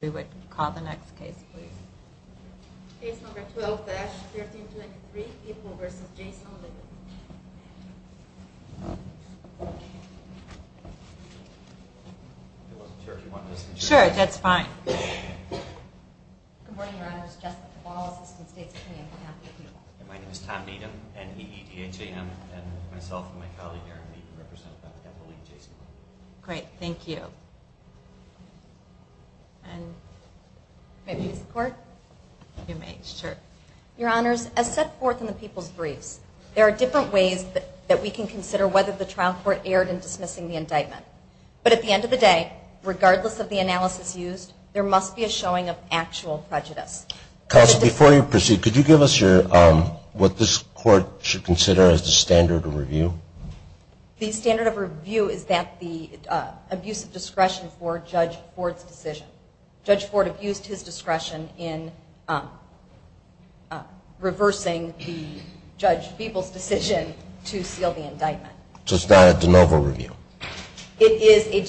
We would call the next case please. Case number 12-13293, People v. Jason Leavitt. Sure, that's fine. Good morning, your honor. My name is Tom Needham, N-E-E-D-H-A-M, and myself and my colleague Aaron Needham represent the family of Jason Leavitt. Great, thank you. Your honors, as set forth in the people's briefs, there are different ways that we can consider whether the trial court erred in dismissing the indictment. But at the end of the day, regardless of the analysis used, there must be a showing of actual prejudice. Counsel, before you proceed, could you give us what this court should consider as the standard of review? The standard of review is that the abuse of discretion for Judge Ford's decision. Judge Ford abused his discretion in reversing the Judge Beeple's decision to seal the indictment. So it's not a de novo review? It is a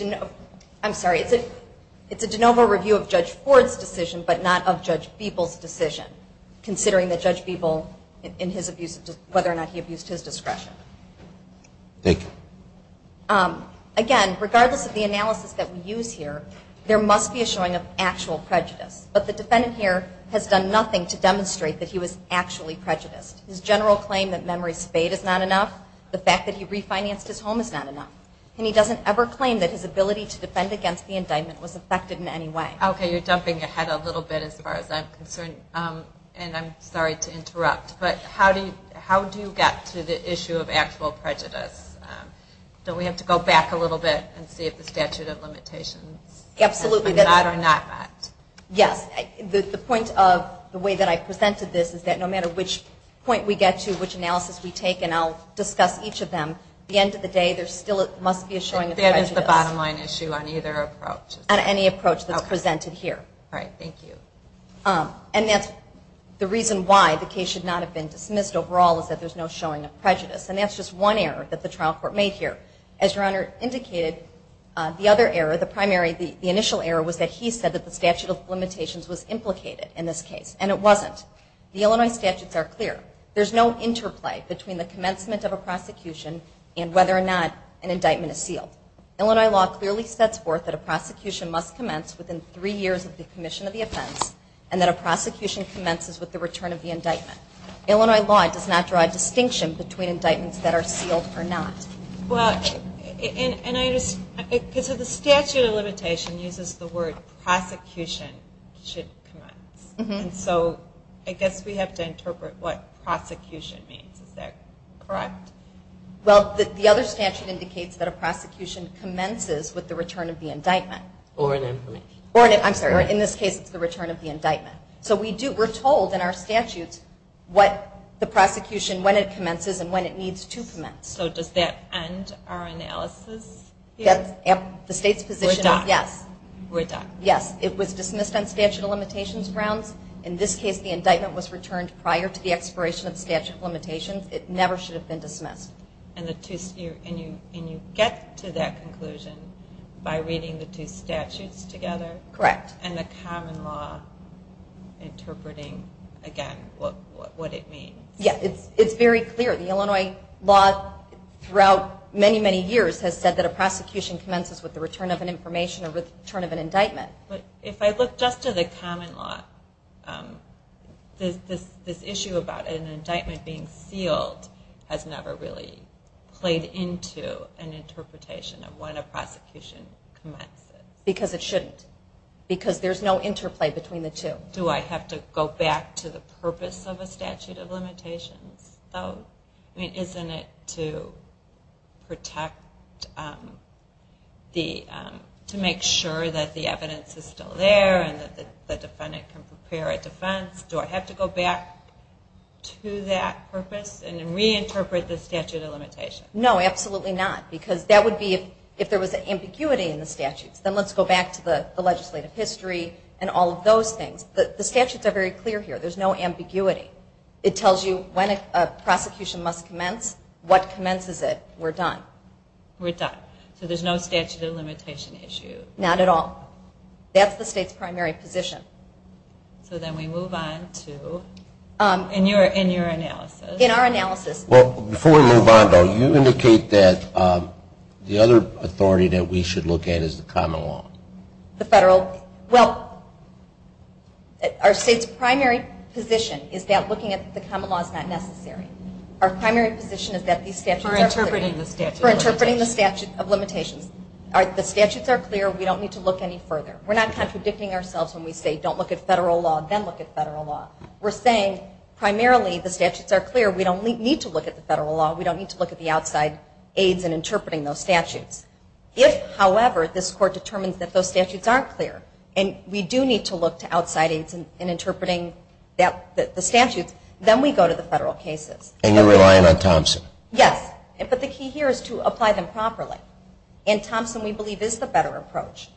de novo review of Judge Ford's decision, but not of Judge Beeple's decision, considering that Judge Beeple, whether or not he abused his discretion. Thank you. Again, regardless of the analysis that we use here, there must be a showing of actual prejudice. But the defendant here has done nothing to demonstrate that he was actually prejudiced. His general claim that memory spade is not enough, the fact that he refinanced his home is not enough. And he doesn't ever claim that his ability to defend against the indictment was affected in any way. Okay, you're jumping ahead a little bit as far as I'm concerned, and I'm sorry to interrupt, but how do you get to the issue of actual prejudice? Don't we have to go back a little bit and see if the statute of limitations is not or not met? Yes. The point of the way that I presented this is that no matter which point we get to, which analysis we take, and I'll discuss each of them, at the end of the day, there still must be a showing of prejudice. That is the bottom line issue on either approach? On any approach that's presented here. All right. Thank you. And that's the reason why the case should not have been dismissed overall, is that there's no showing of prejudice. And that's just one error that the trial court made here. As Your Honor indicated, the other error, the initial error, was that he said that the statute of limitations was implicated in this case, and it wasn't. The Illinois statutes are clear. There's no interplay between the commencement of a prosecution and whether or not an indictment is sealed. Illinois law clearly sets forth that a prosecution must commence within three years of the commission of the offense, and that a prosecution commences with the return of the indictment. Illinois law does not draw a distinction between indictments that are sealed or not. Well, and I just, because the statute of limitation uses the word prosecution should commence. And so I guess we have to interpret what prosecution means. Is that correct? Well, the other statute indicates that a prosecution commences with the return of the indictment. Or an imprimatur. Or an imprimatur. I'm sorry. In this case, it's the return of the indictment. So we're told in our statutes what the prosecution, when it commences, and when it needs to commence. So does that end our analysis here? The state's position is yes. We're done. Yes. It was dismissed on statute of limitations grounds. In this case, the indictment was returned prior to the expiration of the statute of limitations. It never should have been dismissed. And you get to that conclusion by reading the two statutes together? Correct. And the common law interpreting, again, what it means. Yes. It's very clear. The Illinois law throughout many, many years has said that a prosecution commences with the return of an information or with the return of an indictment. But if I look just to the common law, this issue about an indictment being sealed has never really played into an interpretation of when a prosecution commences. Because it shouldn't. Because there's no interplay between the two. Do I have to go back to the purpose of a statute of limitations, though? I mean, isn't it to make sure that the evidence is still there and that the defendant can prepare a defense? Do I have to go back to that purpose and reinterpret the statute of limitations? No, absolutely not. Because that would be if there was ambiguity in the statutes. Then let's go back to the legislative history and all of those things. The statutes are very clear here. There's no ambiguity. It tells you when a prosecution must commence, what commences it. We're done. We're done. So there's no statute of limitation issue? Not at all. That's the state's primary position. So then we move on to, in your analysis. In our analysis. Well, before we move on, though, you indicate that the other authority that we should look at is the common law. The federal. Well, our state's primary position is that looking at the common law is not necessary. Our primary position is that these statutes are clear. For interpreting the statute of limitations. For interpreting the statute of limitations. The statutes are clear. We don't need to look any further. We're not contradicting ourselves when we say don't look at federal law, then look at federal law. We're saying primarily the statutes are clear. We don't need to look at the federal law. We don't need to look at the outside aids in interpreting those statutes. If, however, this court determines that those statutes aren't clear, and we do need to look to outside aids in interpreting the statutes, then we go to the federal cases. And you're relying on Thompson. Yes. But the key here is to apply them properly. And Thompson, we believe, is the better approach.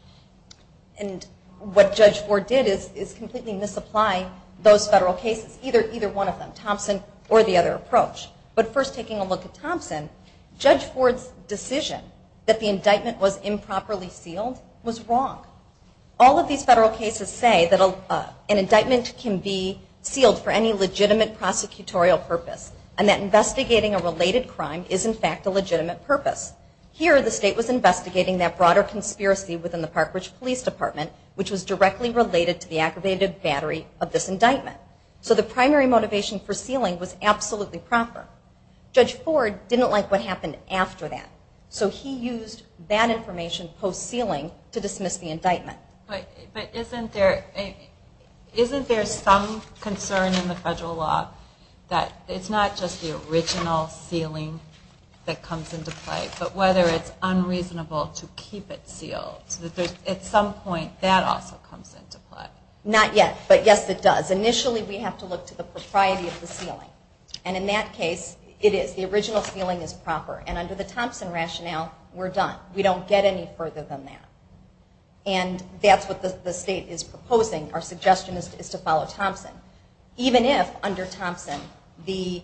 And what Judge Ford did is completely misapply those federal cases, either one of them, Thompson or the other approach. But first taking a look at Thompson, Judge Ford's decision that the indictment was improperly sealed was wrong. All of these federal cases say that an indictment can be sealed for any legitimate prosecutorial purpose. And that investigating a related crime is, in fact, a legitimate purpose. Here, the state was investigating that broader conspiracy within the Park Ridge Police Department, which was directly related to the aggravated battery of this indictment. So the primary motivation for sealing was absolutely proper. Judge Ford didn't like what happened after that. So he used that information post-sealing to dismiss the indictment. But isn't there some concern in the federal law that it's not just the original sealing that comes into play, but whether it's unreasonable to keep it sealed, so that at some point that also comes into play? Not yet, but yes, it does. Initially, we have to look to the propriety of the sealing. And in that case, it is. The original sealing is proper. And under the Thompson rationale, we're done. We don't get any further than that. And that's what the state is proposing. Our suggestion is to follow Thompson. Even if, under Thompson, the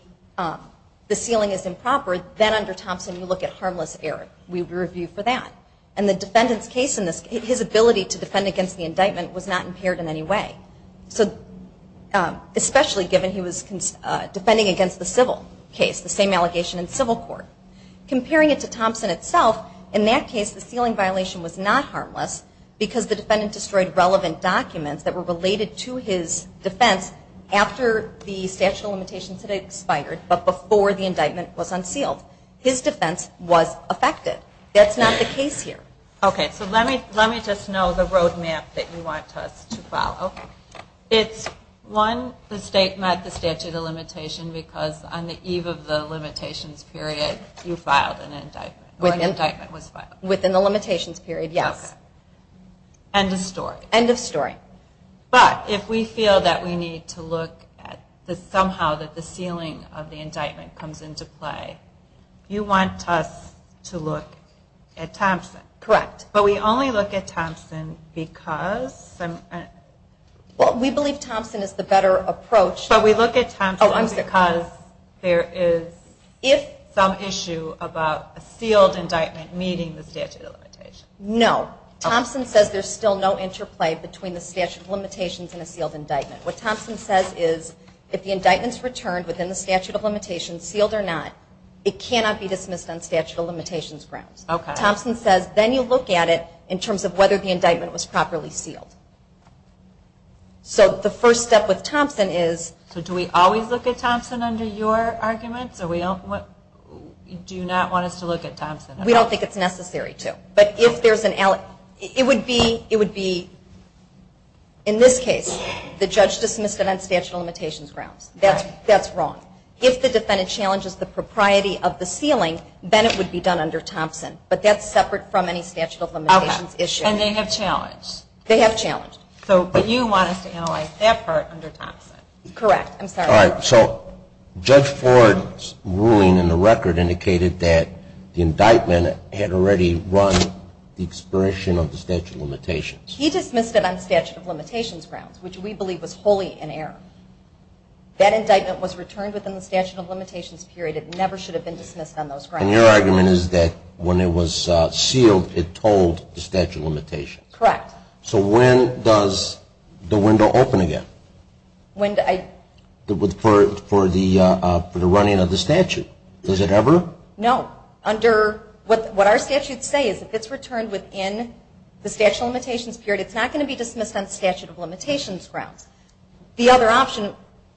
sealing is improper, then under Thompson, you look at harmless error. We would review for that. And the defendant's ability to defend against the indictment was not impaired in any way, especially given he was defending against the civil case, the same allegation in civil court. Comparing it to Thompson itself, in that case, the sealing violation was not harmless because the defendant destroyed relevant documents that were related to his defense after the statute of limitations had expired, but before the indictment was unsealed. His defense was affected. That's not the case here. Okay. So let me just know the roadmap that you want us to follow. It's, one, the state met the statute of limitation because on the eve of the limitations period, you filed an indictment, or an indictment was filed. Within the limitations period, yes. End of story. End of story. But if we feel that we need to look at somehow that the sealing of the indictment comes into play, you want us to look at Thompson. Correct. But we only look at Thompson because? Well, we believe Thompson is the better approach. But we look at Thompson because there is some issue about a sealed indictment meeting the statute of limitations. No. Thompson says there's still no interplay between the statute of limitations and a sealed indictment. What Thompson says is if the indictment's returned within the statute of limitations, sealed or not, it cannot be dismissed on statute of limitations grounds. Okay. But Thompson says then you look at it in terms of whether the indictment was properly sealed. So the first step with Thompson is? So do we always look at Thompson under your arguments? Or do you not want us to look at Thompson? We don't think it's necessary to. But if there's an, it would be, in this case, the judge dismissed it on statute of limitations grounds. That's wrong. If the defendant challenges the propriety of the sealing, then it would be done under Thompson. But that's separate from any statute of limitations issue. Okay. And they have challenged. They have challenged. But you want us to analyze that part under Thompson. Correct. I'm sorry. All right. So Judge Ford's ruling in the record indicated that the indictment had already run the expiration of the statute of limitations. He dismissed it on statute of limitations grounds, which we believe was wholly in error. It never should have been dismissed on those grounds. And your argument is that when it was sealed, it told the statute of limitations. Correct. So when does the window open again? For the running of the statute. Does it ever? No. Under, what our statutes say is if it's returned within the statute of limitations period, it's not going to be dismissed on statute of limitations grounds. The other option,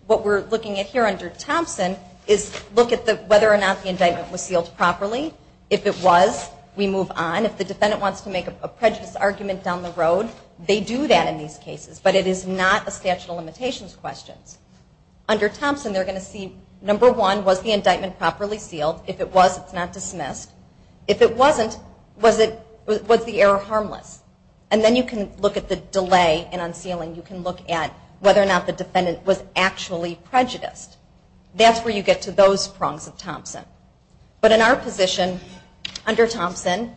what we're looking at here under Thompson, is look at whether or not the indictment was sealed properly. If it was, we move on. If the defendant wants to make a prejudice argument down the road, they do that in these cases. But it is not a statute of limitations question. Under Thompson, they're going to see, number one, was the indictment properly sealed? If it was, it's not dismissed. If it wasn't, was the error harmless? And then you can look at the delay in unsealing. You can look at whether or not the defendant was actually prejudiced. That's where you get to those prongs of Thompson. But in our position, under Thompson,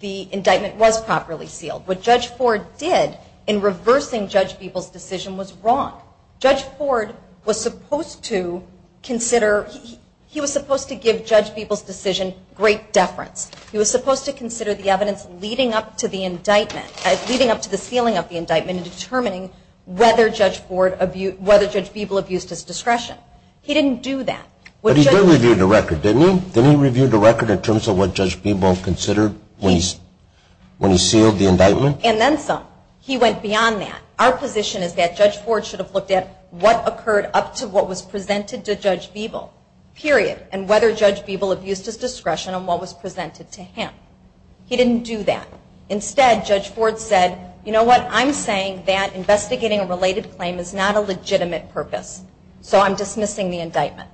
the indictment was properly sealed. What Judge Ford did in reversing Judge Beeble's decision was wrong. Judge Ford was supposed to consider, he was supposed to give Judge Beeble's decision great deference. He was supposed to consider the evidence leading up to the indictment, leading up to the sealing of the indictment, and determining whether Judge Beeble abused his discretion. He didn't do that. But he did review the record, didn't he? Didn't he review the record in terms of what Judge Beeble considered when he sealed the indictment? And then some. He went beyond that. Our position is that Judge Ford should have looked at what occurred up to what was presented to Judge Beeble, period, and whether Judge Beeble abused his discretion on what was presented to him. He didn't do that. Instead, Judge Ford said, you know what, I'm saying that investigating a related claim is not a legitimate purpose. So I'm dismissing the indictment.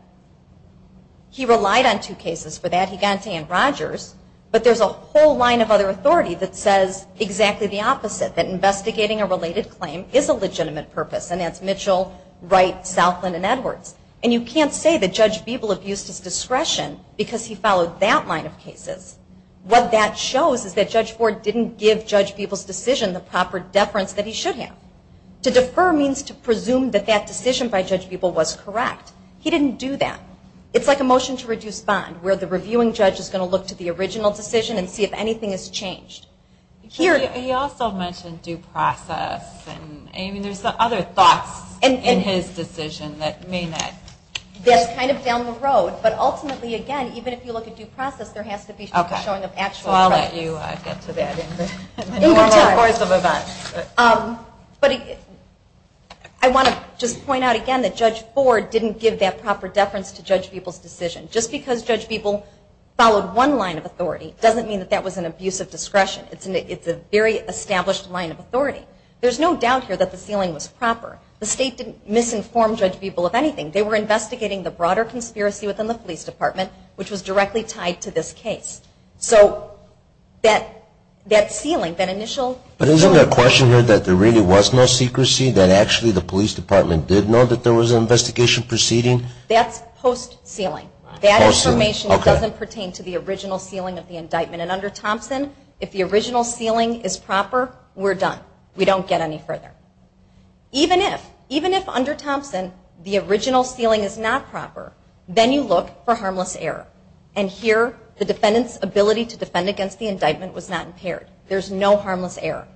He relied on two cases for that. He got into Ann Rogers. But there's a whole line of other authority that says exactly the opposite, that investigating a related claim is a legitimate purpose. And that's Mitchell, Wright, Southland, and Edwards. And you can't say that Judge Beeble abused his discretion because he followed that line of cases. What that shows is that Judge Ford didn't give Judge Beeble's decision the proper deference that he should have. To defer means to presume that that decision by Judge Beeble was correct. He didn't do that. It's like a motion to reduce bond where the reviewing judge is going to look to the original decision and see if anything has changed. He also mentioned due process. I mean, there's other thoughts in his decision that may not. That's kind of down the road. But ultimately, again, even if you look at due process, there has to be showing of actual evidence. So I'll let you get to that in the course of events. But I want to just point out again that Judge Ford didn't give that proper deference to Judge Beeble's decision. Just because Judge Beeble followed one line of authority doesn't mean that that was an abuse of discretion. It's a very established line of authority. There's no doubt here that the ceiling was proper. The state didn't misinform Judge Beeble of anything. They were investigating the broader conspiracy within the police department, which was directly tied to this case. So that ceiling, that initial... But isn't there a question here that there really was no secrecy, that actually the police department did know that there was an investigation proceeding? That's post-ceiling. That information doesn't pertain to the original ceiling of the indictment. And under Thompson, if the original ceiling is proper, we're done. We don't get any further. Even if, even if under Thompson, the original ceiling is not proper, then you look for harmless error. And here, the defendant's ability to defend against the indictment was not impaired. There's no harmless error.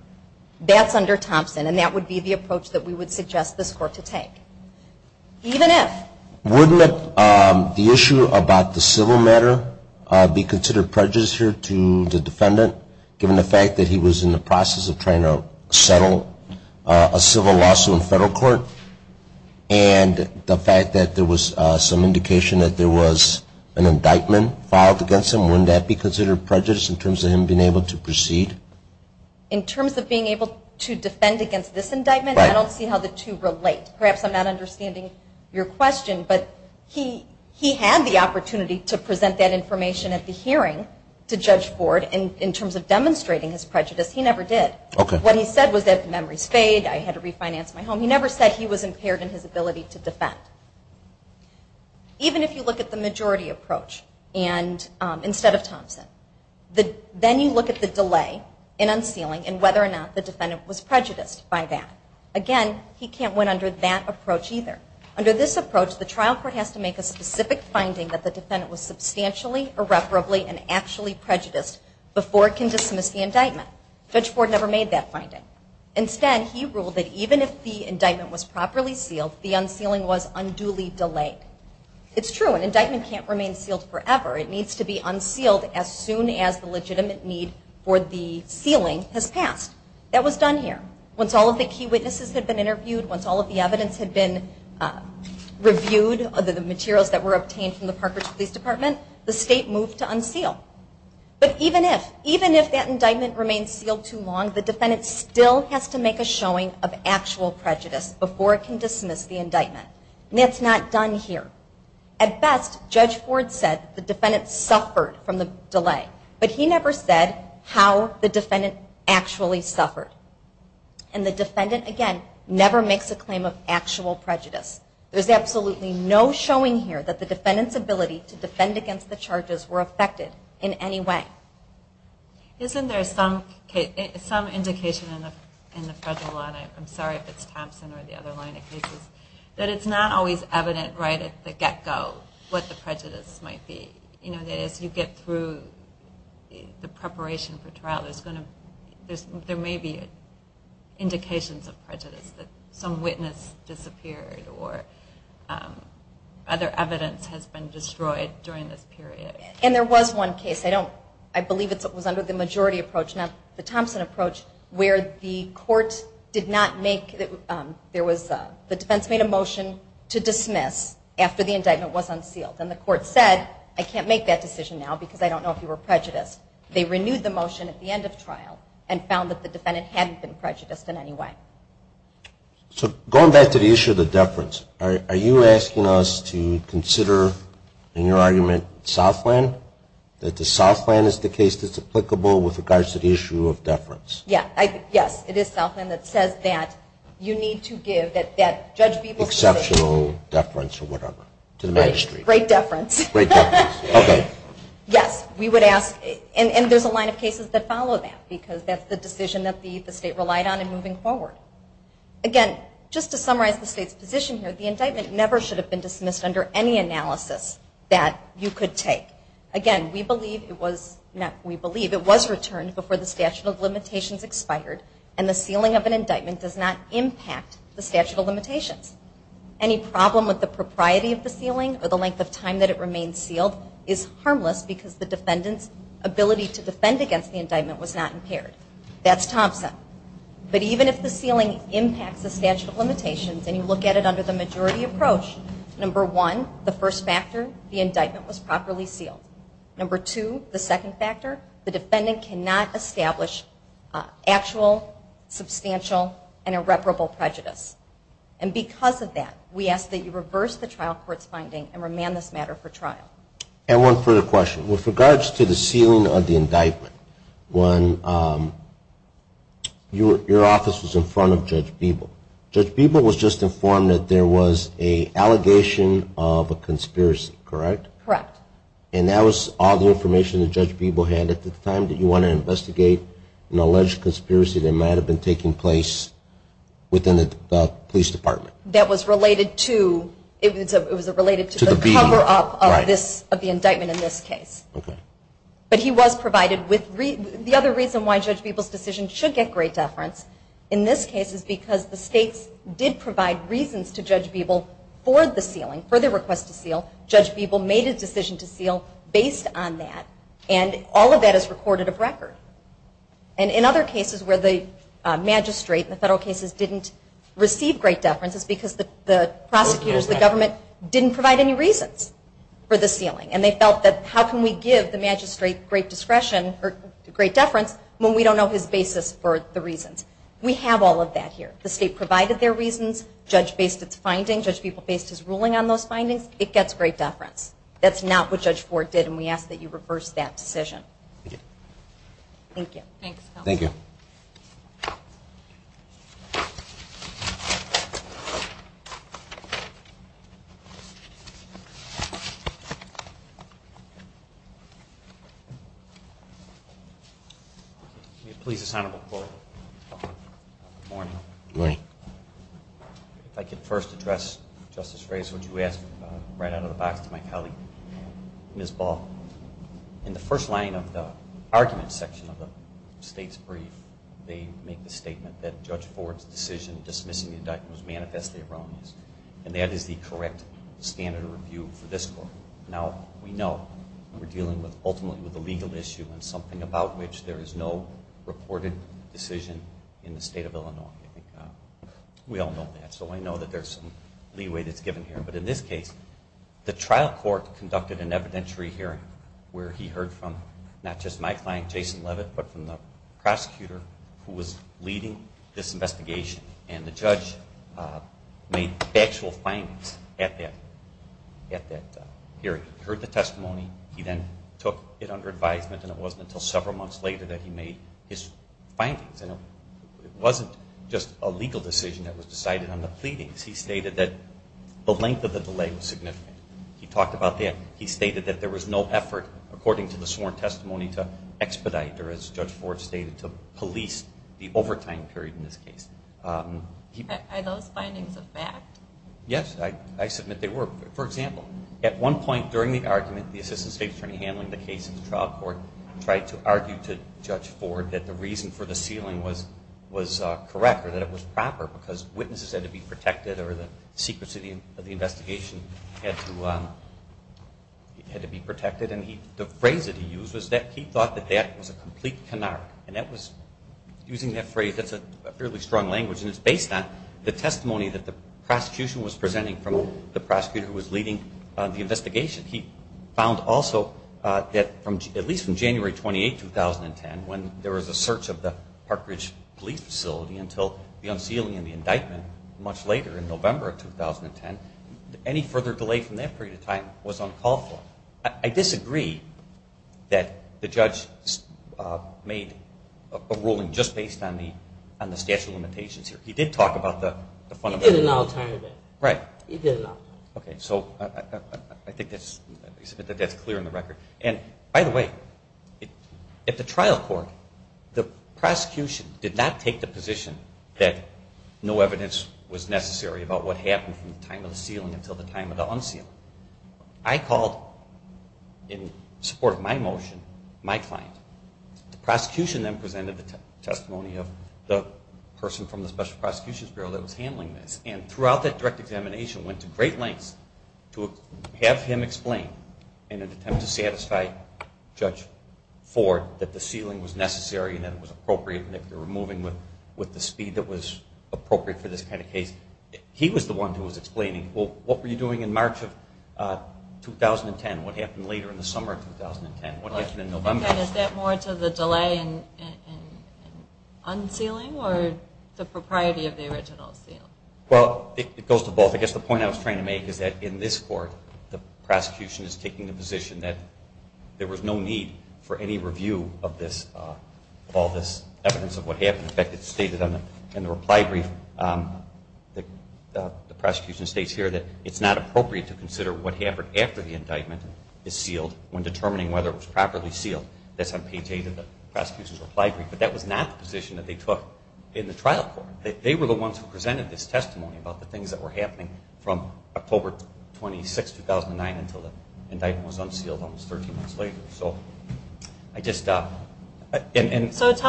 That's under Thompson, and that would be the approach that we would suggest this Court to take. Even if... Wouldn't the issue about the civil matter be considered prejudiced here to the defendant, given the fact that he was in the process of trying to settle a civil lawsuit in federal court, and the fact that there was some indication that there was an indictment filed against him? Wouldn't that be considered prejudiced in terms of him being able to proceed? In terms of being able to defend against this indictment, I don't see how the two relate. Perhaps I'm not understanding your question, but he had the opportunity to present that information at the hearing to Judge Ford in terms of demonstrating his prejudice. He never did. What he said was that memories fade, I had to refinance my home. He never said he was impaired in his ability to defend. Even if you look at the majority approach instead of Thompson, then you look at the delay in unsealing and whether or not the defendant was prejudiced by that. Again, he can't win under that approach either. Under this approach, the trial court has to make a specific finding that the defendant was substantially, irreparably, and actually prejudiced before it can dismiss the indictment. Judge Ford never made that finding. Instead, he ruled that even if the indictment was properly sealed, the unsealing was unduly delayed. It's true, an indictment can't remain sealed forever. It needs to be unsealed as soon as the legitimate need for the sealing has passed. That was done here. Once all of the key witnesses had been interviewed, once all of the evidence had been reviewed, all of the materials that were obtained from the Park Ridge Police Department, the state moved to unseal. But even if that indictment remained sealed too long, the defendant still has to make a showing of actual prejudice before it can dismiss the indictment. That's not done here. At best, Judge Ford said the defendant suffered from the delay, but he never said how the defendant actually suffered. The defendant, again, never makes a claim of actual prejudice. There's absolutely no showing here that the defendant's ability to defend against the charges were affected in any way. Isn't there some indication in the federal law, and I'm sorry if it's Thompson or the other line of cases, that it's not always evident right at the get-go what the prejudice might be? You know, as you get through the preparation for trial, there may be indications of prejudice that some witness disappeared or other evidence has been destroyed during this period. And there was one case. I believe it was under the majority approach, not the Thompson approach, where the defense made a motion to dismiss after the indictment was unsealed, and the court said, I can't make that decision now because I don't know if you were prejudiced. They renewed the motion at the end of trial and found that the defendant hadn't been prejudiced in any way. So going back to the issue of the deference, are you asking us to consider in your argument Southland, that the Southland is the case that's applicable with regards to the issue of deference? Yes. It is Southland that says that you need to give that Judge Beeble's decision. Exceptional deference or whatever to the magistrate. Great deference. Great deference. Okay. Yes, we would ask, and there's a line of cases that follow that because that's the decision that the state relied on in moving forward. Again, just to summarize the state's position here, the indictment never should have been dismissed under any analysis that you could take. Again, we believe it was returned before the statute of limitations expired, and the sealing of an indictment does not impact the statute of limitations. Any problem with the propriety of the sealing or the length of time that it remains sealed is harmless because the defendant's ability to defend against the indictment was not impaired. That's Thompson. But even if the sealing impacts the statute of limitations and you look at it under the majority approach, number one, the first factor, the indictment was properly sealed. Number two, the second factor, the defendant cannot establish actual, substantial, and irreparable prejudice. And because of that, we ask that you reverse the trial court's finding and remand this matter for trial. And one further question. With regards to the sealing of the indictment, when your office was in front of Judge Beeble, Judge Beeble was just informed that there was an allegation of a conspiracy, correct? Correct. And that was all the information that Judge Beeble had at the time? Did you want to investigate an alleged conspiracy that might have been taking place within the police department? That was related to the cover-up of the indictment in this case. Okay. But he was provided with the other reason why Judge Beeble's decision should get great deference in this case is because the states did provide reasons to Judge Beeble for the sealing, for the request to seal. Judge Beeble made a decision to seal based on that, and all of that is recorded of record. And in other cases where the magistrate in the federal cases didn't receive great deference is because the prosecutors, the government, didn't provide any reasons for the sealing, and they felt that how can we give the magistrate great discretion or great deference when we don't know his basis for the reasons? We have all of that here. The state provided their reasons. Judge Beeble based his ruling on those findings. It gets great deference. That's not what Judge Ford did, and we ask that you reverse that decision. Okay. Thank you. Thanks, Counsel. Thank you. May it please the Senator McCoy. Good morning. Good morning. If I could first address Justice Reyes, what you asked right out of the box to my colleague, Ms. Ball. In the first line of the argument section of the state's brief, they make the statement that Judge Ford's decision dismissing the indictment was manifestly erroneous, and that is the correct standard of review for this court. Now, we know we're dealing ultimately with a legal issue and something about which there is no reported decision in the state of Illinois. We all know that, so I know that there's some leeway that's given here. But in this case, the trial court conducted an evidentiary hearing where he heard from not just my client, Jason Levitt, but from the prosecutor who was leading this investigation, and the judge made factual findings at that hearing. He heard the testimony. He then took it under advisement, and it wasn't until several months later that he made his findings. It wasn't just a legal decision that was decided on the pleadings. He stated that the length of the delay was significant. He talked about that. He stated that there was no effort, according to the sworn testimony, to expedite or, as Judge Ford stated, to police the overtime period in this case. Are those findings a fact? Yes, I submit they were. For example, at one point during the argument, the assistant state attorney handling the case in the trial court tried to argue to Judge Ford that the reason for the ceiling was correct or that it was proper because witnesses had to be protected or the secrecy of the investigation had to be protected. And the phrase that he used was that he thought that that was a complete canard. And using that phrase, that's a fairly strong language, and it's based on the testimony that the prosecution was presenting from the prosecutor who was leading the investigation. He found also that at least from January 28, 2010, when there was a search of the Park Ridge police facility until the unsealing and the indictment much later in November of 2010, any further delay from that period of time was uncalled for. I disagree that the judge made a ruling just based on the statute of limitations here. He did talk about the fundamental. He did an alternative. Right. He did an alternative. Okay. So I think that's clear in the record. And by the way, at the trial court, the prosecution did not take the position that no evidence was necessary about what happened from the time of the sealing until the time of the unsealing. I called, in support of my motion, my client. The prosecution then presented the testimony of the person from the Special Prosecutions Bureau that was handling this, and throughout that direct examination went to great lengths to have him explain, in an attempt to satisfy Judge Ford, that the sealing was necessary and that it was appropriate and that they were moving with the speed that was appropriate for this kind of case. He was the one who was explaining, well, what were you doing in March of 2010? What happened later in the summer of 2010? What happened in November? Is that more to the delay in unsealing or the propriety of the original seal? Well, it goes to both. I guess the point I was trying to make is that in this court, the prosecution is taking the position that there was no need for any review of all this evidence of what happened. In fact, it's stated in the reply brief, the prosecution states here, that it's not appropriate to consider what happened after the indictment is sealed when determining whether it was properly sealed. That's on page 8 of the prosecution's reply brief. But that was not the position that they took in the trial court. They were the ones who presented this testimony about the things that were happening from October 26, 2009 until the indictment was unsealed almost 13 months later. So tell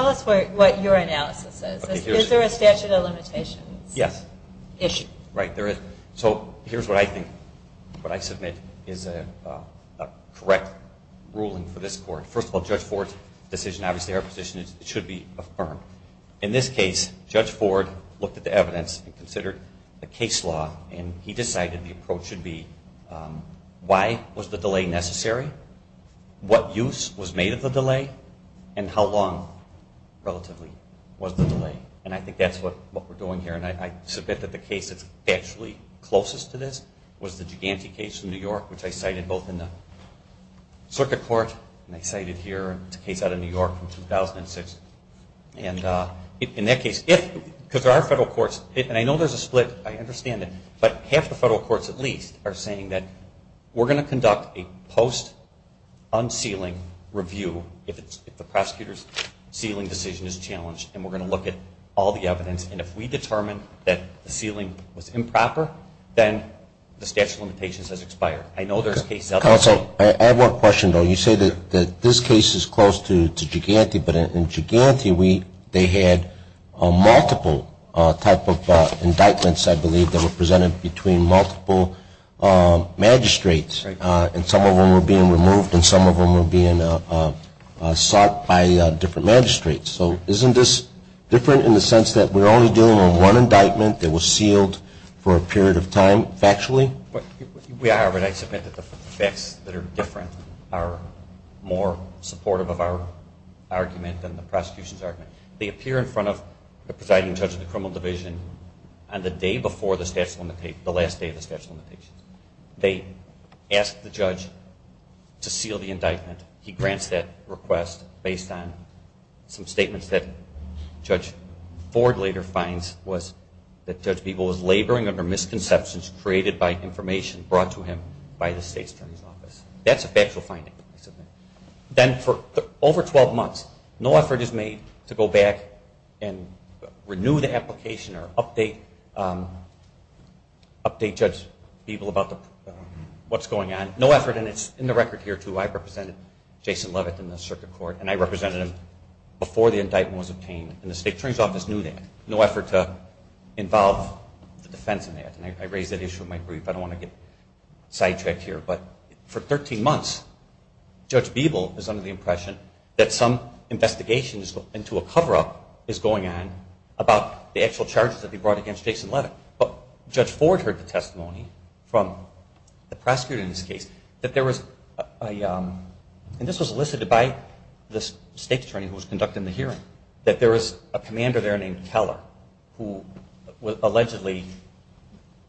us what your analysis is. Is there a statute of limitations issue? Yes. Right, there is. So here's what I think, what I submit is a correct ruling for this court. First of all, Judge Ford's decision, obviously our position, it should be affirmed. In this case, Judge Ford looked at the evidence and considered the case law and he decided the approach should be why was the delay necessary? What use was made of the delay? And how long, relatively, was the delay? And I think that's what we're doing here. And I submit that the case that's actually closest to this was the Giganti case in New York, which I cited both in the circuit court and I cited here. It's a case out of New York from 2006. And in that case, because our federal courts, and I know there's a split, I understand it, but half the federal courts at least are saying that we're going to conduct a post-unsealing review if the prosecutor's sealing decision is challenged, and we're going to look at all the evidence. And if we determine that the sealing was improper, then the statute of limitations has expired. I know there's cases out there. Counsel, I have one question, though. You say that this case is close to Giganti, but in Giganti they had multiple type of indictments, I believe, that were presented between multiple magistrates, and some of them were being removed and some of them were being sought by different magistrates. So isn't this different in the sense that we're only dealing with one indictment that was sealed for a period of time factually? We are, but I submit that the facts that are different are more supportive of our argument than the prosecution's argument. They appear in front of the presiding judge of the criminal division, and the day before the last day of the statute of limitations, they ask the judge to seal the indictment. He grants that request based on some statements that Judge Ford later finds, was that Judge Beeble was laboring under misconceptions created by information brought to him by the state attorney's office. That's a factual finding, I submit. Then for over 12 months, no effort is made to go back and renew the application or update Judge Beeble about what's going on. No effort, and it's in the record here, too. I represented Jason Levitt in the circuit court, and I represented him before the indictment was obtained, and the state attorney's office knew that. No effort to involve the defense in that, and I raised that issue in my brief. I don't want to get sidetracked here, but for 13 months, Judge Beeble is under the impression that some investigation into a cover-up is going on about the actual charges that he brought against Jason Levitt. But Judge Ford heard the testimony from the prosecutor in this case that there was a, and this was elicited by the state attorney who was conducting the hearing, that there was a commander there named Keller who allegedly,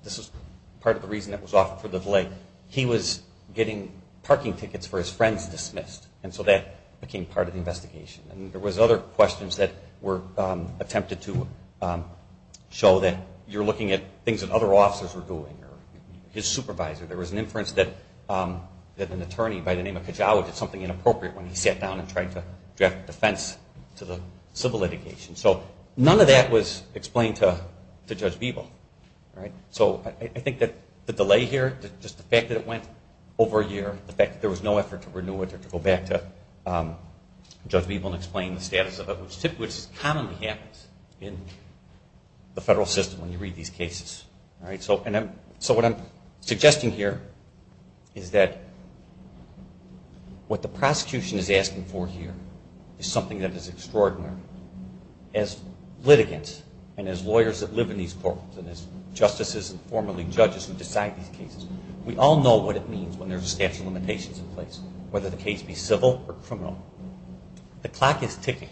this was part of the reason that was offered for the delay, he was getting parking tickets for his friends dismissed, and so that became part of the investigation. And there was other questions that were attempted to show that you're looking at things that other officers were doing or his supervisor. There was an inference that an attorney by the name of Kajawa did something inappropriate when he sat down and tried to draft a defense to the civil litigation. So none of that was explained to Judge Beeble. So I think that the delay here, just the fact that it went over a year, the fact that there was no effort to renew it or to go back to Judge Beeble and explain the status of it, which commonly happens in the federal system when you read these cases. So what I'm suggesting here is that what the prosecution is asking for here is something that is extraordinary. As litigants and as lawyers that live in these courtrooms and as justices and formerly judges who decide these cases, we all know what it means when there's a statute of limitations in place, whether the case be civil or criminal. The clock is ticking.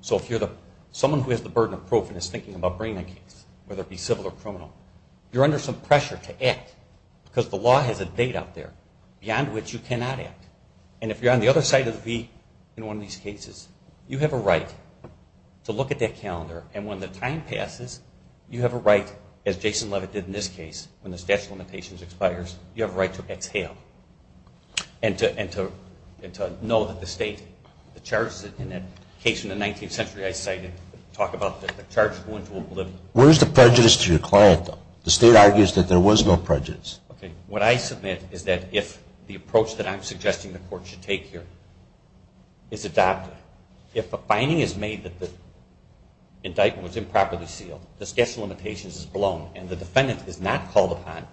So if you're someone who has the burden of proof and is thinking about bringing a case, whether it be civil or criminal, you're under some pressure to act because the law has a date out there beyond which you cannot act. And if you're on the other side of the beat in one of these cases, you have a right to look at that calendar. And when the time passes, you have a right, as Jason Levitt did in this case, when the statute of limitations expires, you have a right to exhale and to know that the state charges it. In that case in the 19th century I cited, talk about the charge going to oblivion. Where's the prejudice to your client, though? The state argues that there was no prejudice. Okay. What I submit is that if the approach that I'm suggesting the court should take here is adopted, if a finding is made that the indictment was improperly sealed, the statute of limitations is blown, and the defendant is not called upon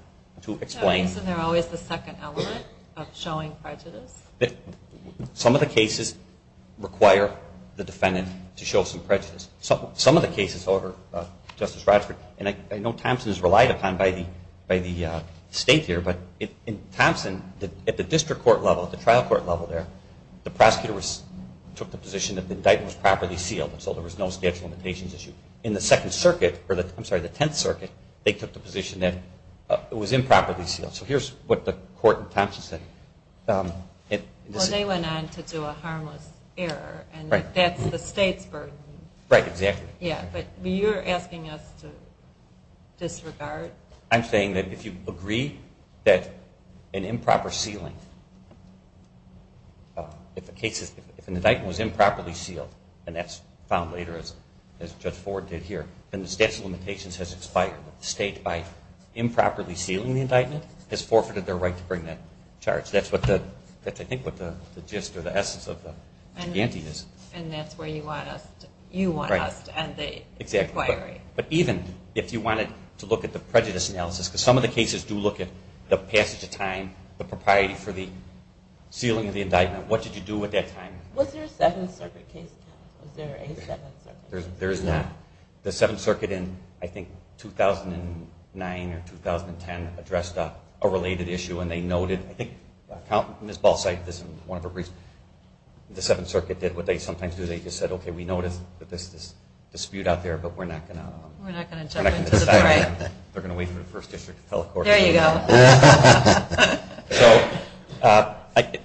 to explain. So isn't there always the second element of showing prejudice? Some of the cases require the defendant to show some prejudice. Some of the cases, however, Justice Radsford, and I know Thompson is relied upon by the state here, but in Thompson at the district court level, at the trial court level there, the prosecutor took the position that the indictment was properly sealed and so there was no statute of limitations issue. In the Second Circuit, I'm sorry, the Tenth Circuit, they took the position that it was improperly sealed. So here's what the court in Thompson said. Well, they went on to do a harmless error, and that's the state's burden. Right, exactly. Yeah, but you're asking us to disregard? I'm saying that if you agree that an improper sealing, if an indictment was improperly sealed, and that's found later, as Judge Ford did here, then the statute of limitations has expired. The state, by improperly sealing the indictment, has forfeited their right to bring that charge. That's, I think, what the gist or the essence of the ante is. And that's where you want us to end the inquiry. But even if you wanted to look at the prejudice analysis, because some of the cases do look at the passage of time, the propriety for the sealing of the indictment, what did you do at that time? Was there a Seventh Circuit case? Was there a Seventh Circuit case? There is not. The Seventh Circuit in, I think, 2009 or 2010 addressed a related issue, and they noted, I think Ms. Ball said this in one of her briefs, the Seventh Circuit did what they sometimes do. They just said, okay, we notice that there's this dispute out there, but we're not going to jump into the fight. We're not going to jump into the fight. They're going to wait for the First District to tell the court. There you go.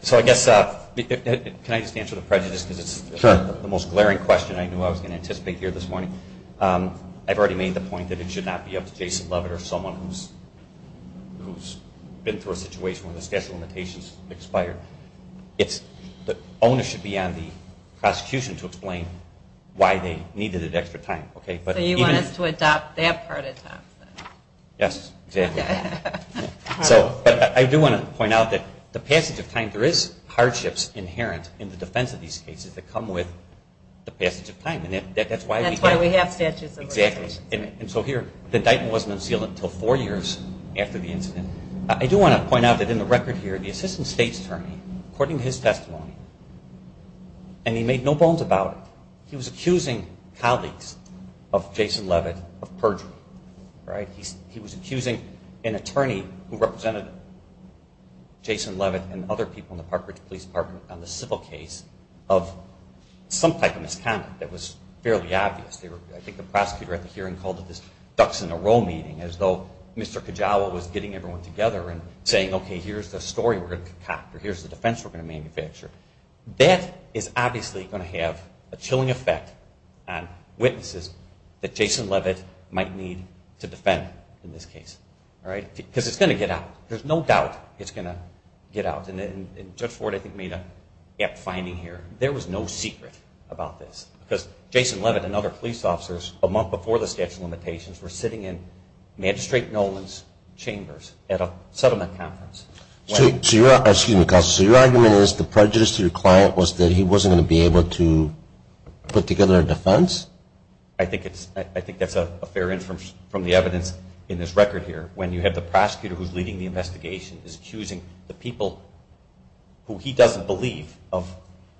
So I guess, can I just answer the prejudice, because it's the most glaring question I knew I was going to anticipate here this morning. I've already made the point that it should not be up to Jason Levitt or someone who's been through a situation where the statute of limitations expired. The owner should be on the prosecution to explain why they needed that extra time. So you want us to adopt that part of time. Yes, exactly. So I do want to point out that the passage of time, there is hardships inherent in the defense of these cases that come with the passage of time. That's why we have statutes of limitations. And so here, the indictment wasn't unsealed until four years after the incident. I do want to point out that in the record here, the Assistant State's Attorney, according to his testimony, and he made no bones about it, he was accusing colleagues of Jason Levitt of perjury. He was accusing an attorney who represented Jason Levitt and other people in the Park Ridge Police Department on the civil case of some type of misconduct that was fairly obvious. I think the prosecutor at the hearing called it this ducks-in-a-row meeting, as though Mr. Kajawa was getting everyone together and saying, okay, here's the story we're going to concoct, or here's the defense we're going to manufacture. That is obviously going to have a chilling effect on witnesses that Jason Levitt might need to defend in this case. Because it's going to get out. There's no doubt it's going to get out. And Judge Ford, I think, made an apt finding here. There was no secret about this. Because Jason Levitt and other police officers, a month before the statute of limitations, were sitting in Magistrate Nolan's chambers at a settlement conference. Excuse me, Counselor, so your argument is the prejudice to your client was that he wasn't going to be able to put together a defense? I think that's a fair inference from the evidence in this record here. When you have the prosecutor who's leading the investigation is accusing the people who he doesn't believe of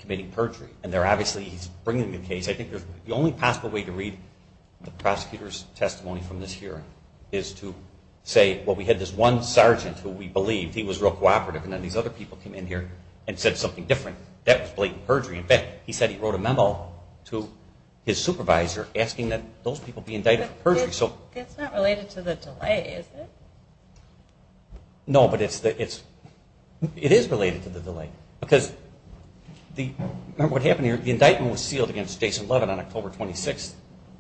committing perjury. And they're obviously bringing the case. I think the only possible way to read the prosecutor's testimony from this hearing is to say, well, we had this one sergeant who we believed. He was real cooperative. And then these other people came in here and said something different. That was blatant perjury. In fact, he said he wrote a memo to his supervisor asking that those people be indicted for perjury. But it's not related to the delay, is it? No, but it is related to the delay. Because remember what happened here. The indictment was sealed against Jason Levitt on October 26,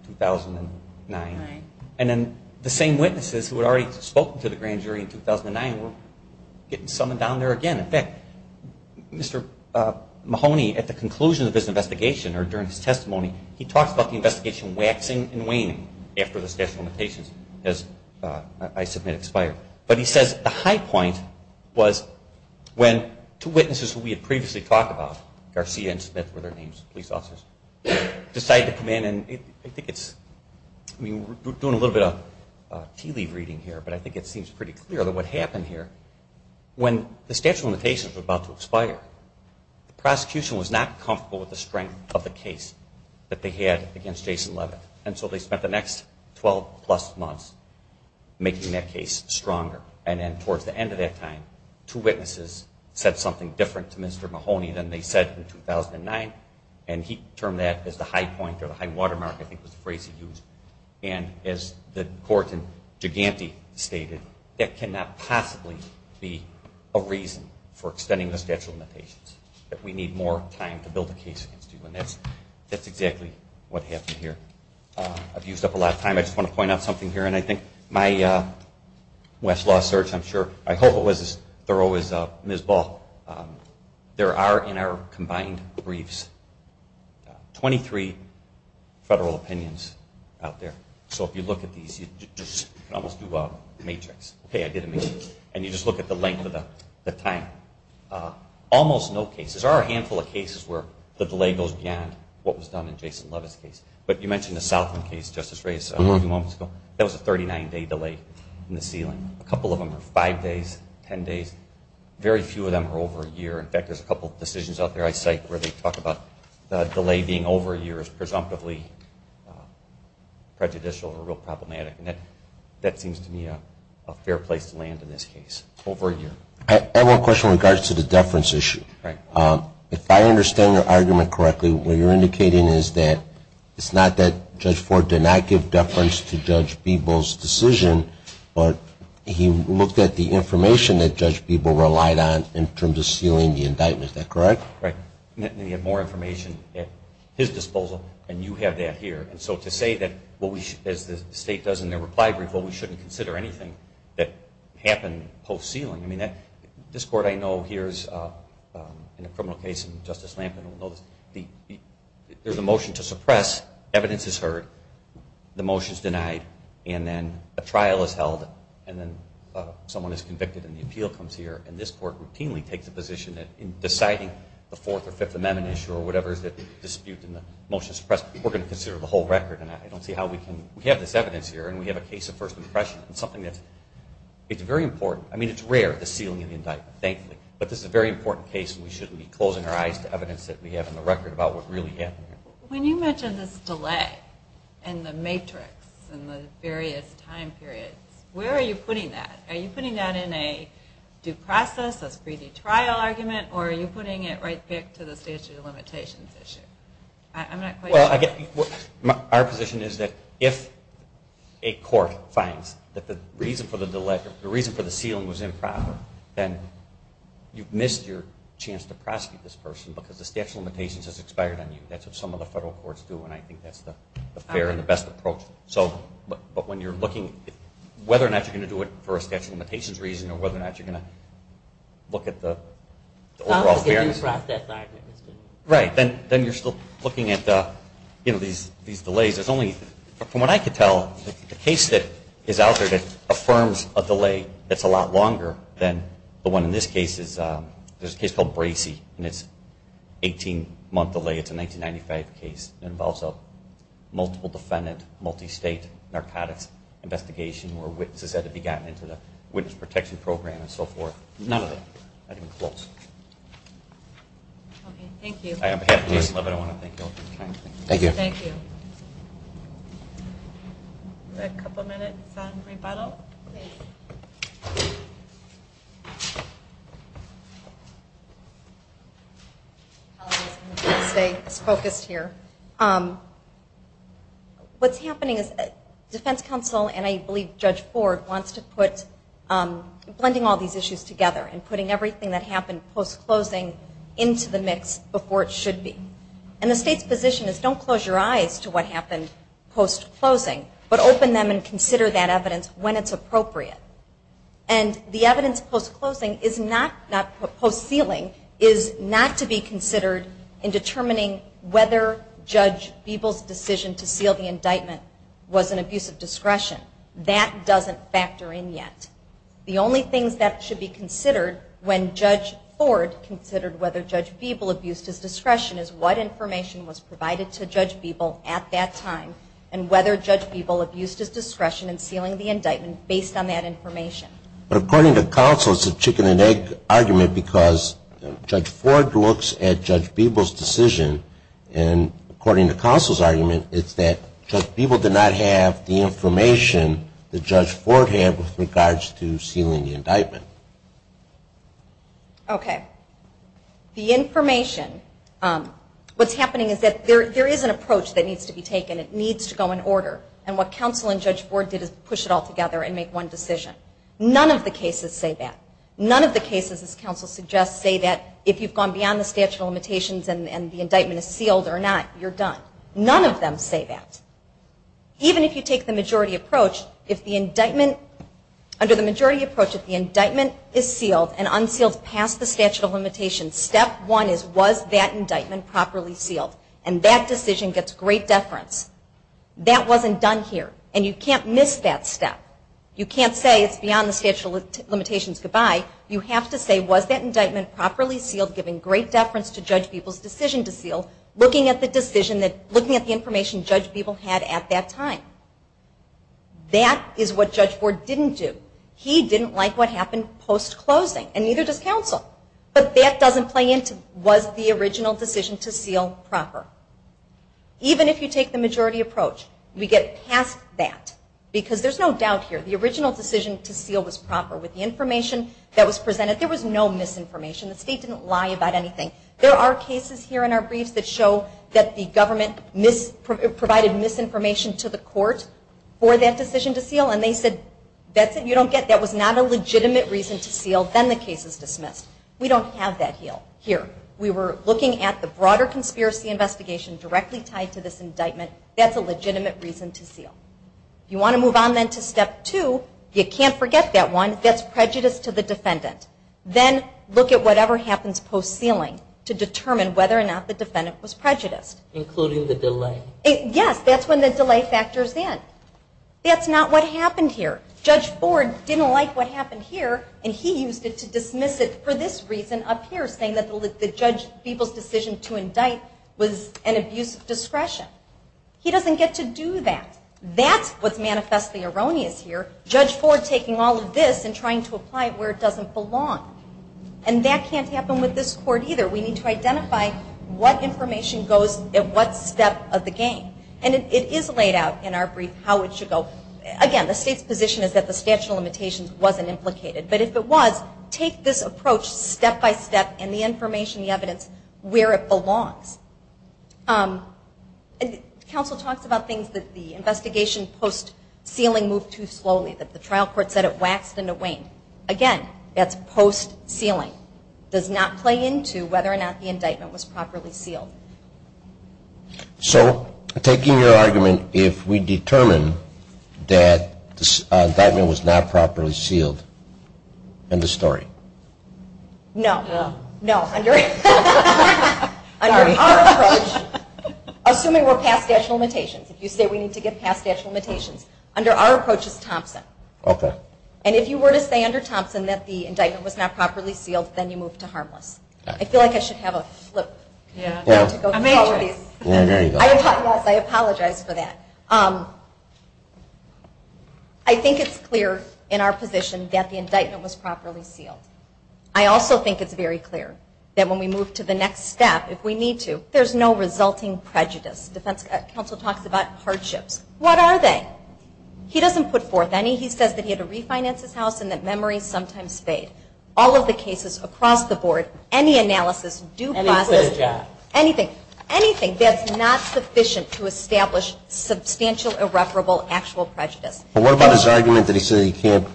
2009. And then the same witnesses who had already spoken to the grand jury in 2009 were getting summoned down there again. In fact, Mr. Mahoney, at the conclusion of his investigation or during his testimony, he talks about the investigation waxing and waning after the statute of limitations has, I submit, expired. But he says the high point was when two witnesses who we had previously talked about, Garcia and Smith were their names, police officers, decided to come in and I think it's, I mean, we're doing a little bit of tea leaf reading here, but I think it seems pretty clear that what happened here, when the statute of limitations was about to expire, the prosecution was not comfortable with the strength of the case that they had against Jason Levitt. And so they spent the next 12-plus months making that case stronger. And then towards the end of that time, two witnesses said something different to Mr. Mahoney than they said in 2009, and he termed that as the high point or the high watermark, I think was the phrase he used. And as the court in Giganti stated, that cannot possibly be a reason for extending the statute of limitations, that we need more time to build a case against you. And that's exactly what happened here. I've used up a lot of time. I just want to point out something here, and I think my Westlaw search, I'm sure, I hope it was as thorough as Ms. Ball. There are, in our combined briefs, 23 federal opinions out there. So if you look at these, you can almost do a matrix. Okay, I did a matrix. And you just look at the length of the time. Almost no cases. There are a handful of cases where the delay goes beyond what was done in Jason Levitt's case. But you mentioned the Southland case, Justice Reyes, a few moments ago. That was a 39-day delay in the ceiling. A couple of them were five days, ten days. Very few of them are over a year. In fact, there's a couple of decisions out there I cite where they talk about the delay being over a year as presumptively prejudicial or real problematic. And that seems to me a fair place to land in this case, over a year. I have one question with regards to the deference issue. If I understand your argument correctly, what you're indicating is that it's not that Judge Ford did not give deference to Judge Bebo's decision, but he looked at the information that Judge Bebo relied on in terms of sealing the indictment. Is that correct? Right. And he had more information at his disposal, and you have that here. And so to say that, as the State does in their reply brief, well, we shouldn't consider anything that happened post-ceiling. I mean, this Court I know here is in a criminal case, and Justice Lampkin will know this. There's a motion to suppress. Evidence is heard. The motion is denied. And then a trial is held, and then someone is convicted, and the appeal comes here. And this Court routinely takes a position that in deciding the Fourth or Fifth Amendment issue or whatever is at dispute in the motion to suppress, we're going to consider the whole record. And I don't see how we can. We have this evidence here, and we have a case of first impression. It's something that's very important. I mean, it's rare, the sealing of the indictment, thankfully. But this is a very important case, and we shouldn't be closing our eyes to evidence that we have in the record about what really happened here. When you mention this delay and the matrix and the various time periods, where are you putting that? Are you putting that in a due process, a speedy trial argument, or are you putting it right back to the statute of limitations issue? I'm not quite sure. Our position is that if a court finds that the reason for the sealing was improper, then you've missed your chance to prosecute this person because the statute of limitations has expired on you. I think that's what some of the federal courts do, and I think that's the fair and the best approach. But when you're looking at whether or not you're going to do it for a statute of limitations reason or whether or not you're going to look at the overall fairness. Then you're still looking at these delays. From what I can tell, the case that is out there that affirms a delay that's a lot longer than the one in this case, there's a case called Bracey, and it's an 18-month delay. It's a 1995 case. It involves a multiple defendant, multi-state narcotics investigation where witnesses had to be gotten into the witness protection program and so forth. None of them, not even close. Thank you. On behalf of Jason Levitt, I want to thank you all for your time today. Thank you. Thank you. A couple minutes on rebuttal. Stay focused here. What's happening is defense counsel and I believe Judge Ford wants to put blending all these issues together and putting everything that happened post-closing into the mix before it should be. And the state's position is don't close your eyes to what happened post-closing, but open them and consider that evidence when it's appropriate. And the evidence post-closing is not, not post-sealing, is not to be considered in determining whether Judge Beeble's decision to seal the indictment was an abuse of discretion. That doesn't factor in yet. The only things that should be considered when Judge Ford considered whether Judge Beeble abused his discretion is what information was provided to Judge Beeble at that time and whether Judge Beeble abused his discretion in sealing the indictment based on that information. But according to counsel, it's a chicken and egg argument because Judge Ford looks at Judge Beeble's decision and according to counsel's argument, it's that Judge Beeble did not have the information that Judge Ford had with regards to sealing the indictment. Okay. The information, what's happening is that there is an approach that needs to be taken. It needs to go in order. And what counsel and Judge Ford did is push it all together and make one decision. None of the cases say that. None of the cases, as counsel suggests, say that if you've gone beyond the statute of limitations and the indictment is sealed or not, you're done. None of them say that. Even if you take the majority approach, if the indictment, under the majority approach, if the indictment is sealed and unsealed past the statute of limitations, step one is, was that indictment properly sealed? And that decision gets great deference. That wasn't done here. And you can't miss that step. You can't say it's beyond the statute of limitations. Goodbye. You have to say, was that indictment properly sealed, giving great deference to Judge Beeble's decision to seal, looking at the information Judge Beeble had at that time? That is what Judge Ford didn't do. He didn't like what happened post-closing, and neither does counsel. But that doesn't play into, was the original decision to seal proper? Even if you take the majority approach, we get past that. Because there's no doubt here, the original decision to seal was proper. With the information that was presented, there was no misinformation. The state didn't lie about anything. There are cases here in our briefs that show that the government provided misinformation to the court for that decision to seal, and they said, that's it, you don't get it. That was not a legitimate reason to seal. Then the case is dismissed. We don't have that here. We were looking at the broader conspiracy investigation directly tied to this indictment. That's a legitimate reason to seal. If you want to move on then to step two, you can't forget that one. That's prejudice to the defendant. Then look at whatever happens post-sealing to determine whether or not the defendant was prejudiced. Including the delay. Yes, that's when the delay factors in. That's not what happened here. Judge Ford didn't like what happened here, and he used it to dismiss it for this reason up here, saying that the people's decision to indict was an abuse of discretion. He doesn't get to do that. That's what's manifestly erroneous here, Judge Ford taking all of this and trying to apply it where it doesn't belong. And that can't happen with this court either. We need to identify what information goes at what step of the game. It is laid out in our brief how it should go. Again, the state's position is that the statute of limitations wasn't implicated. But if it was, take this approach step-by-step and the information, the evidence, where it belongs. Counsel talks about things that the investigation post-sealing moved too slowly, that the trial court said it waxed and it waned. Again, that's post-sealing. It does not play into whether or not the indictment was properly sealed. So taking your argument, if we determine that the indictment was not properly sealed, end of story? No. No. Under our approach, assuming we're past statute of limitations, if you say we need to get past statute of limitations, under our approach is Thompson. Okay. And if you were to say under Thompson that the indictment was not properly sealed, then you move to harmless. I feel like I should have a flip. Yeah. I apologize for that. I think it's clear in our position that the indictment was properly sealed. I also think it's very clear that when we move to the next step, if we need to, there's no resulting prejudice. Defense counsel talks about hardships. What are they? He doesn't put forth any. He says that he had to refinance his house and that memories sometimes fade. All of the cases across the board, any analysis, do process it. Anything. Anything. That's not sufficient to establish substantial irreparable actual prejudice. But what about his argument that he said he can't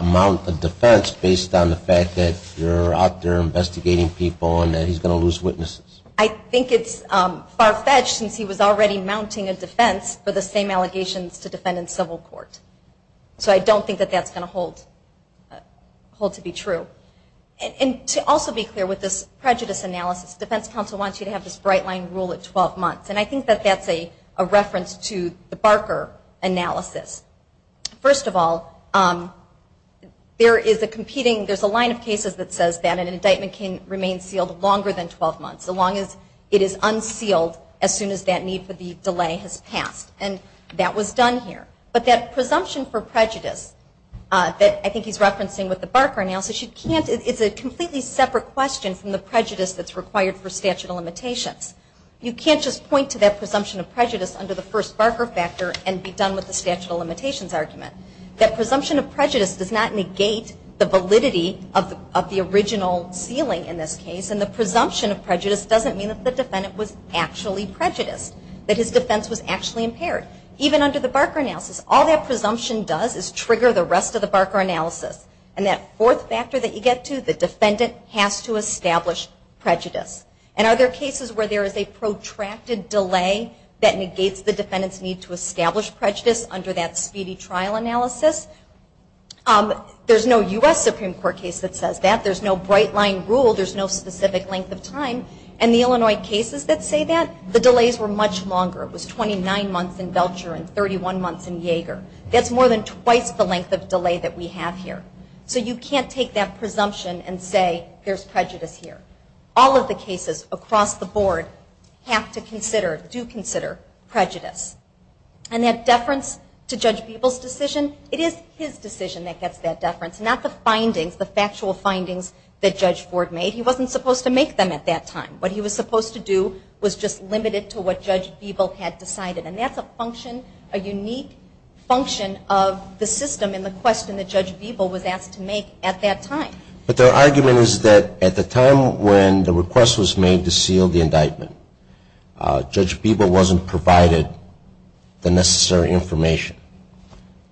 mount a defense based on the fact that you're out there investigating people and that he's going to lose witnesses? I think it's far-fetched since he was already mounting a defense for the same allegations to defend in civil court. So I don't think that that's going to hold to be true. And to also be clear with this prejudice analysis, defense counsel wants you to have this bright line rule at 12 months. And I think that that's a reference to the Barker analysis. First of all, there is a competing, there's a line of cases that says that an indictment can remain sealed longer than 12 months. So long as it is unsealed as soon as that need for the delay has passed. And that was done here. But that presumption for prejudice that I think he's referencing with the Barker analysis, it's a completely separate question from the prejudice that's required for statute of limitations. You can't just point to that presumption of prejudice under the first Barker factor and be done with the statute of limitations argument. That presumption of prejudice does not negate the validity of the original ceiling in this case. And the presumption of prejudice doesn't mean that the defendant was actually prejudiced, that his defense was actually impaired. Even under the Barker analysis, all that presumption does is trigger the rest of the Barker analysis. And that fourth factor that you get to, the defendant has to establish prejudice. And are there cases where there is a protracted delay that negates the defendant's need to establish prejudice under that speedy trial analysis? There's no U.S. Supreme Court case that says that. There's no bright line rule. There's no specific length of time. And the Illinois cases that say that, the delays were much longer. It was 29 months in Veltcher and 31 months in Yeager. That's more than twice the length of delay that we have here. So you can't take that presumption and say there's prejudice here. All of the cases across the board have to consider, do consider, prejudice. And that deference to Judge Beeble's decision, it is his decision that gets that deference, not the findings, the factual findings that Judge Ford made. He wasn't supposed to make them at that time. What he was supposed to do was just limit it to what Judge Beeble had decided. And that's a function, a unique function of the system and the question that Judge Beeble was asked to make at that time. But their argument is that at the time when the request was made to seal the indictment, Judge Beeble wasn't provided the necessary information.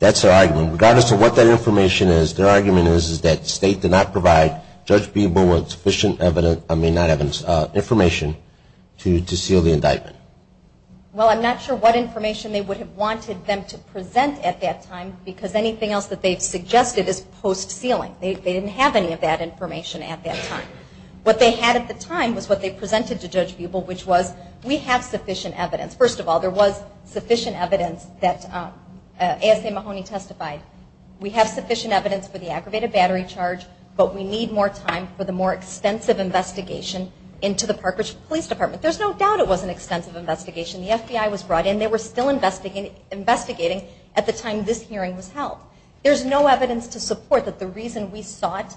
That's their argument. And regardless of what that information is, their argument is that the state did not provide Judge Beeble with sufficient evidence, I mean not evidence, information to seal the indictment. Well, I'm not sure what information they would have wanted them to present at that time because anything else that they've suggested is post-sealing. They didn't have any of that information at that time. What they had at the time was what they presented to Judge Beeble, which was we have sufficient evidence. First of all, there was sufficient evidence that ASA Mahoney testified. We have sufficient evidence for the aggravated battery charge, but we need more time for the more extensive investigation into the Park Ridge Police Department. There's no doubt it was an extensive investigation. The FBI was brought in. They were still investigating at the time this hearing was held. There's no evidence to support that the reason we sought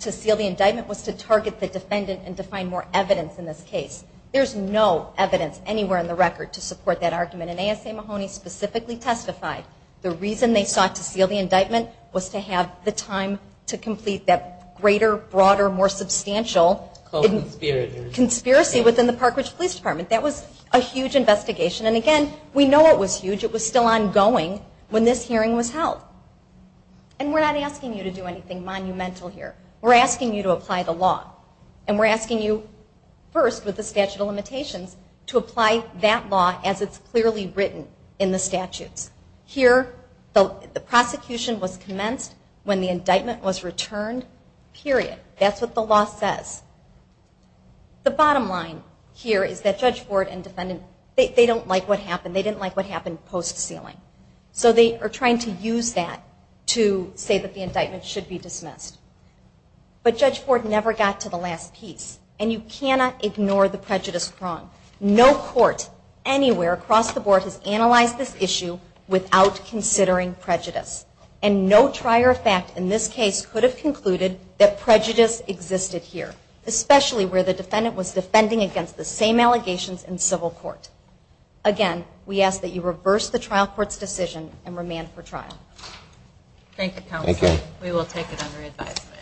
to seal the indictment was to target the defendant and to find more evidence in this case. There's no evidence anywhere in the record to support that argument, and ASA Mahoney specifically testified the reason they sought to seal the indictment was to have the time to complete that greater, broader, more substantial conspiracy within the Park Ridge Police Department. That was a huge investigation, and again, we know it was huge. It was still ongoing when this hearing was held, and we're not asking you to do anything monumental here. We're asking you to apply the law, and we're asking you first, with the statute of limitations, to apply that law as it's clearly written in the statutes. Here, the prosecution was commenced when the indictment was returned, period. That's what the law says. The bottom line here is that Judge Ford and defendant, they don't like what happened. They didn't like what happened post-sealing, so they are trying to use that to say that the indictment should be dismissed. But Judge Ford never got to the last piece, and you cannot ignore the prejudice prong. No court anywhere across the board has analyzed this issue without considering prejudice, and no trier of fact in this case could have concluded that prejudice existed here, especially where the defendant was defending against the same allegations in civil court. Again, we ask that you reverse the trial court's decision and remand for trial. Thank you, counsel. Thank you. We will take it under advisement.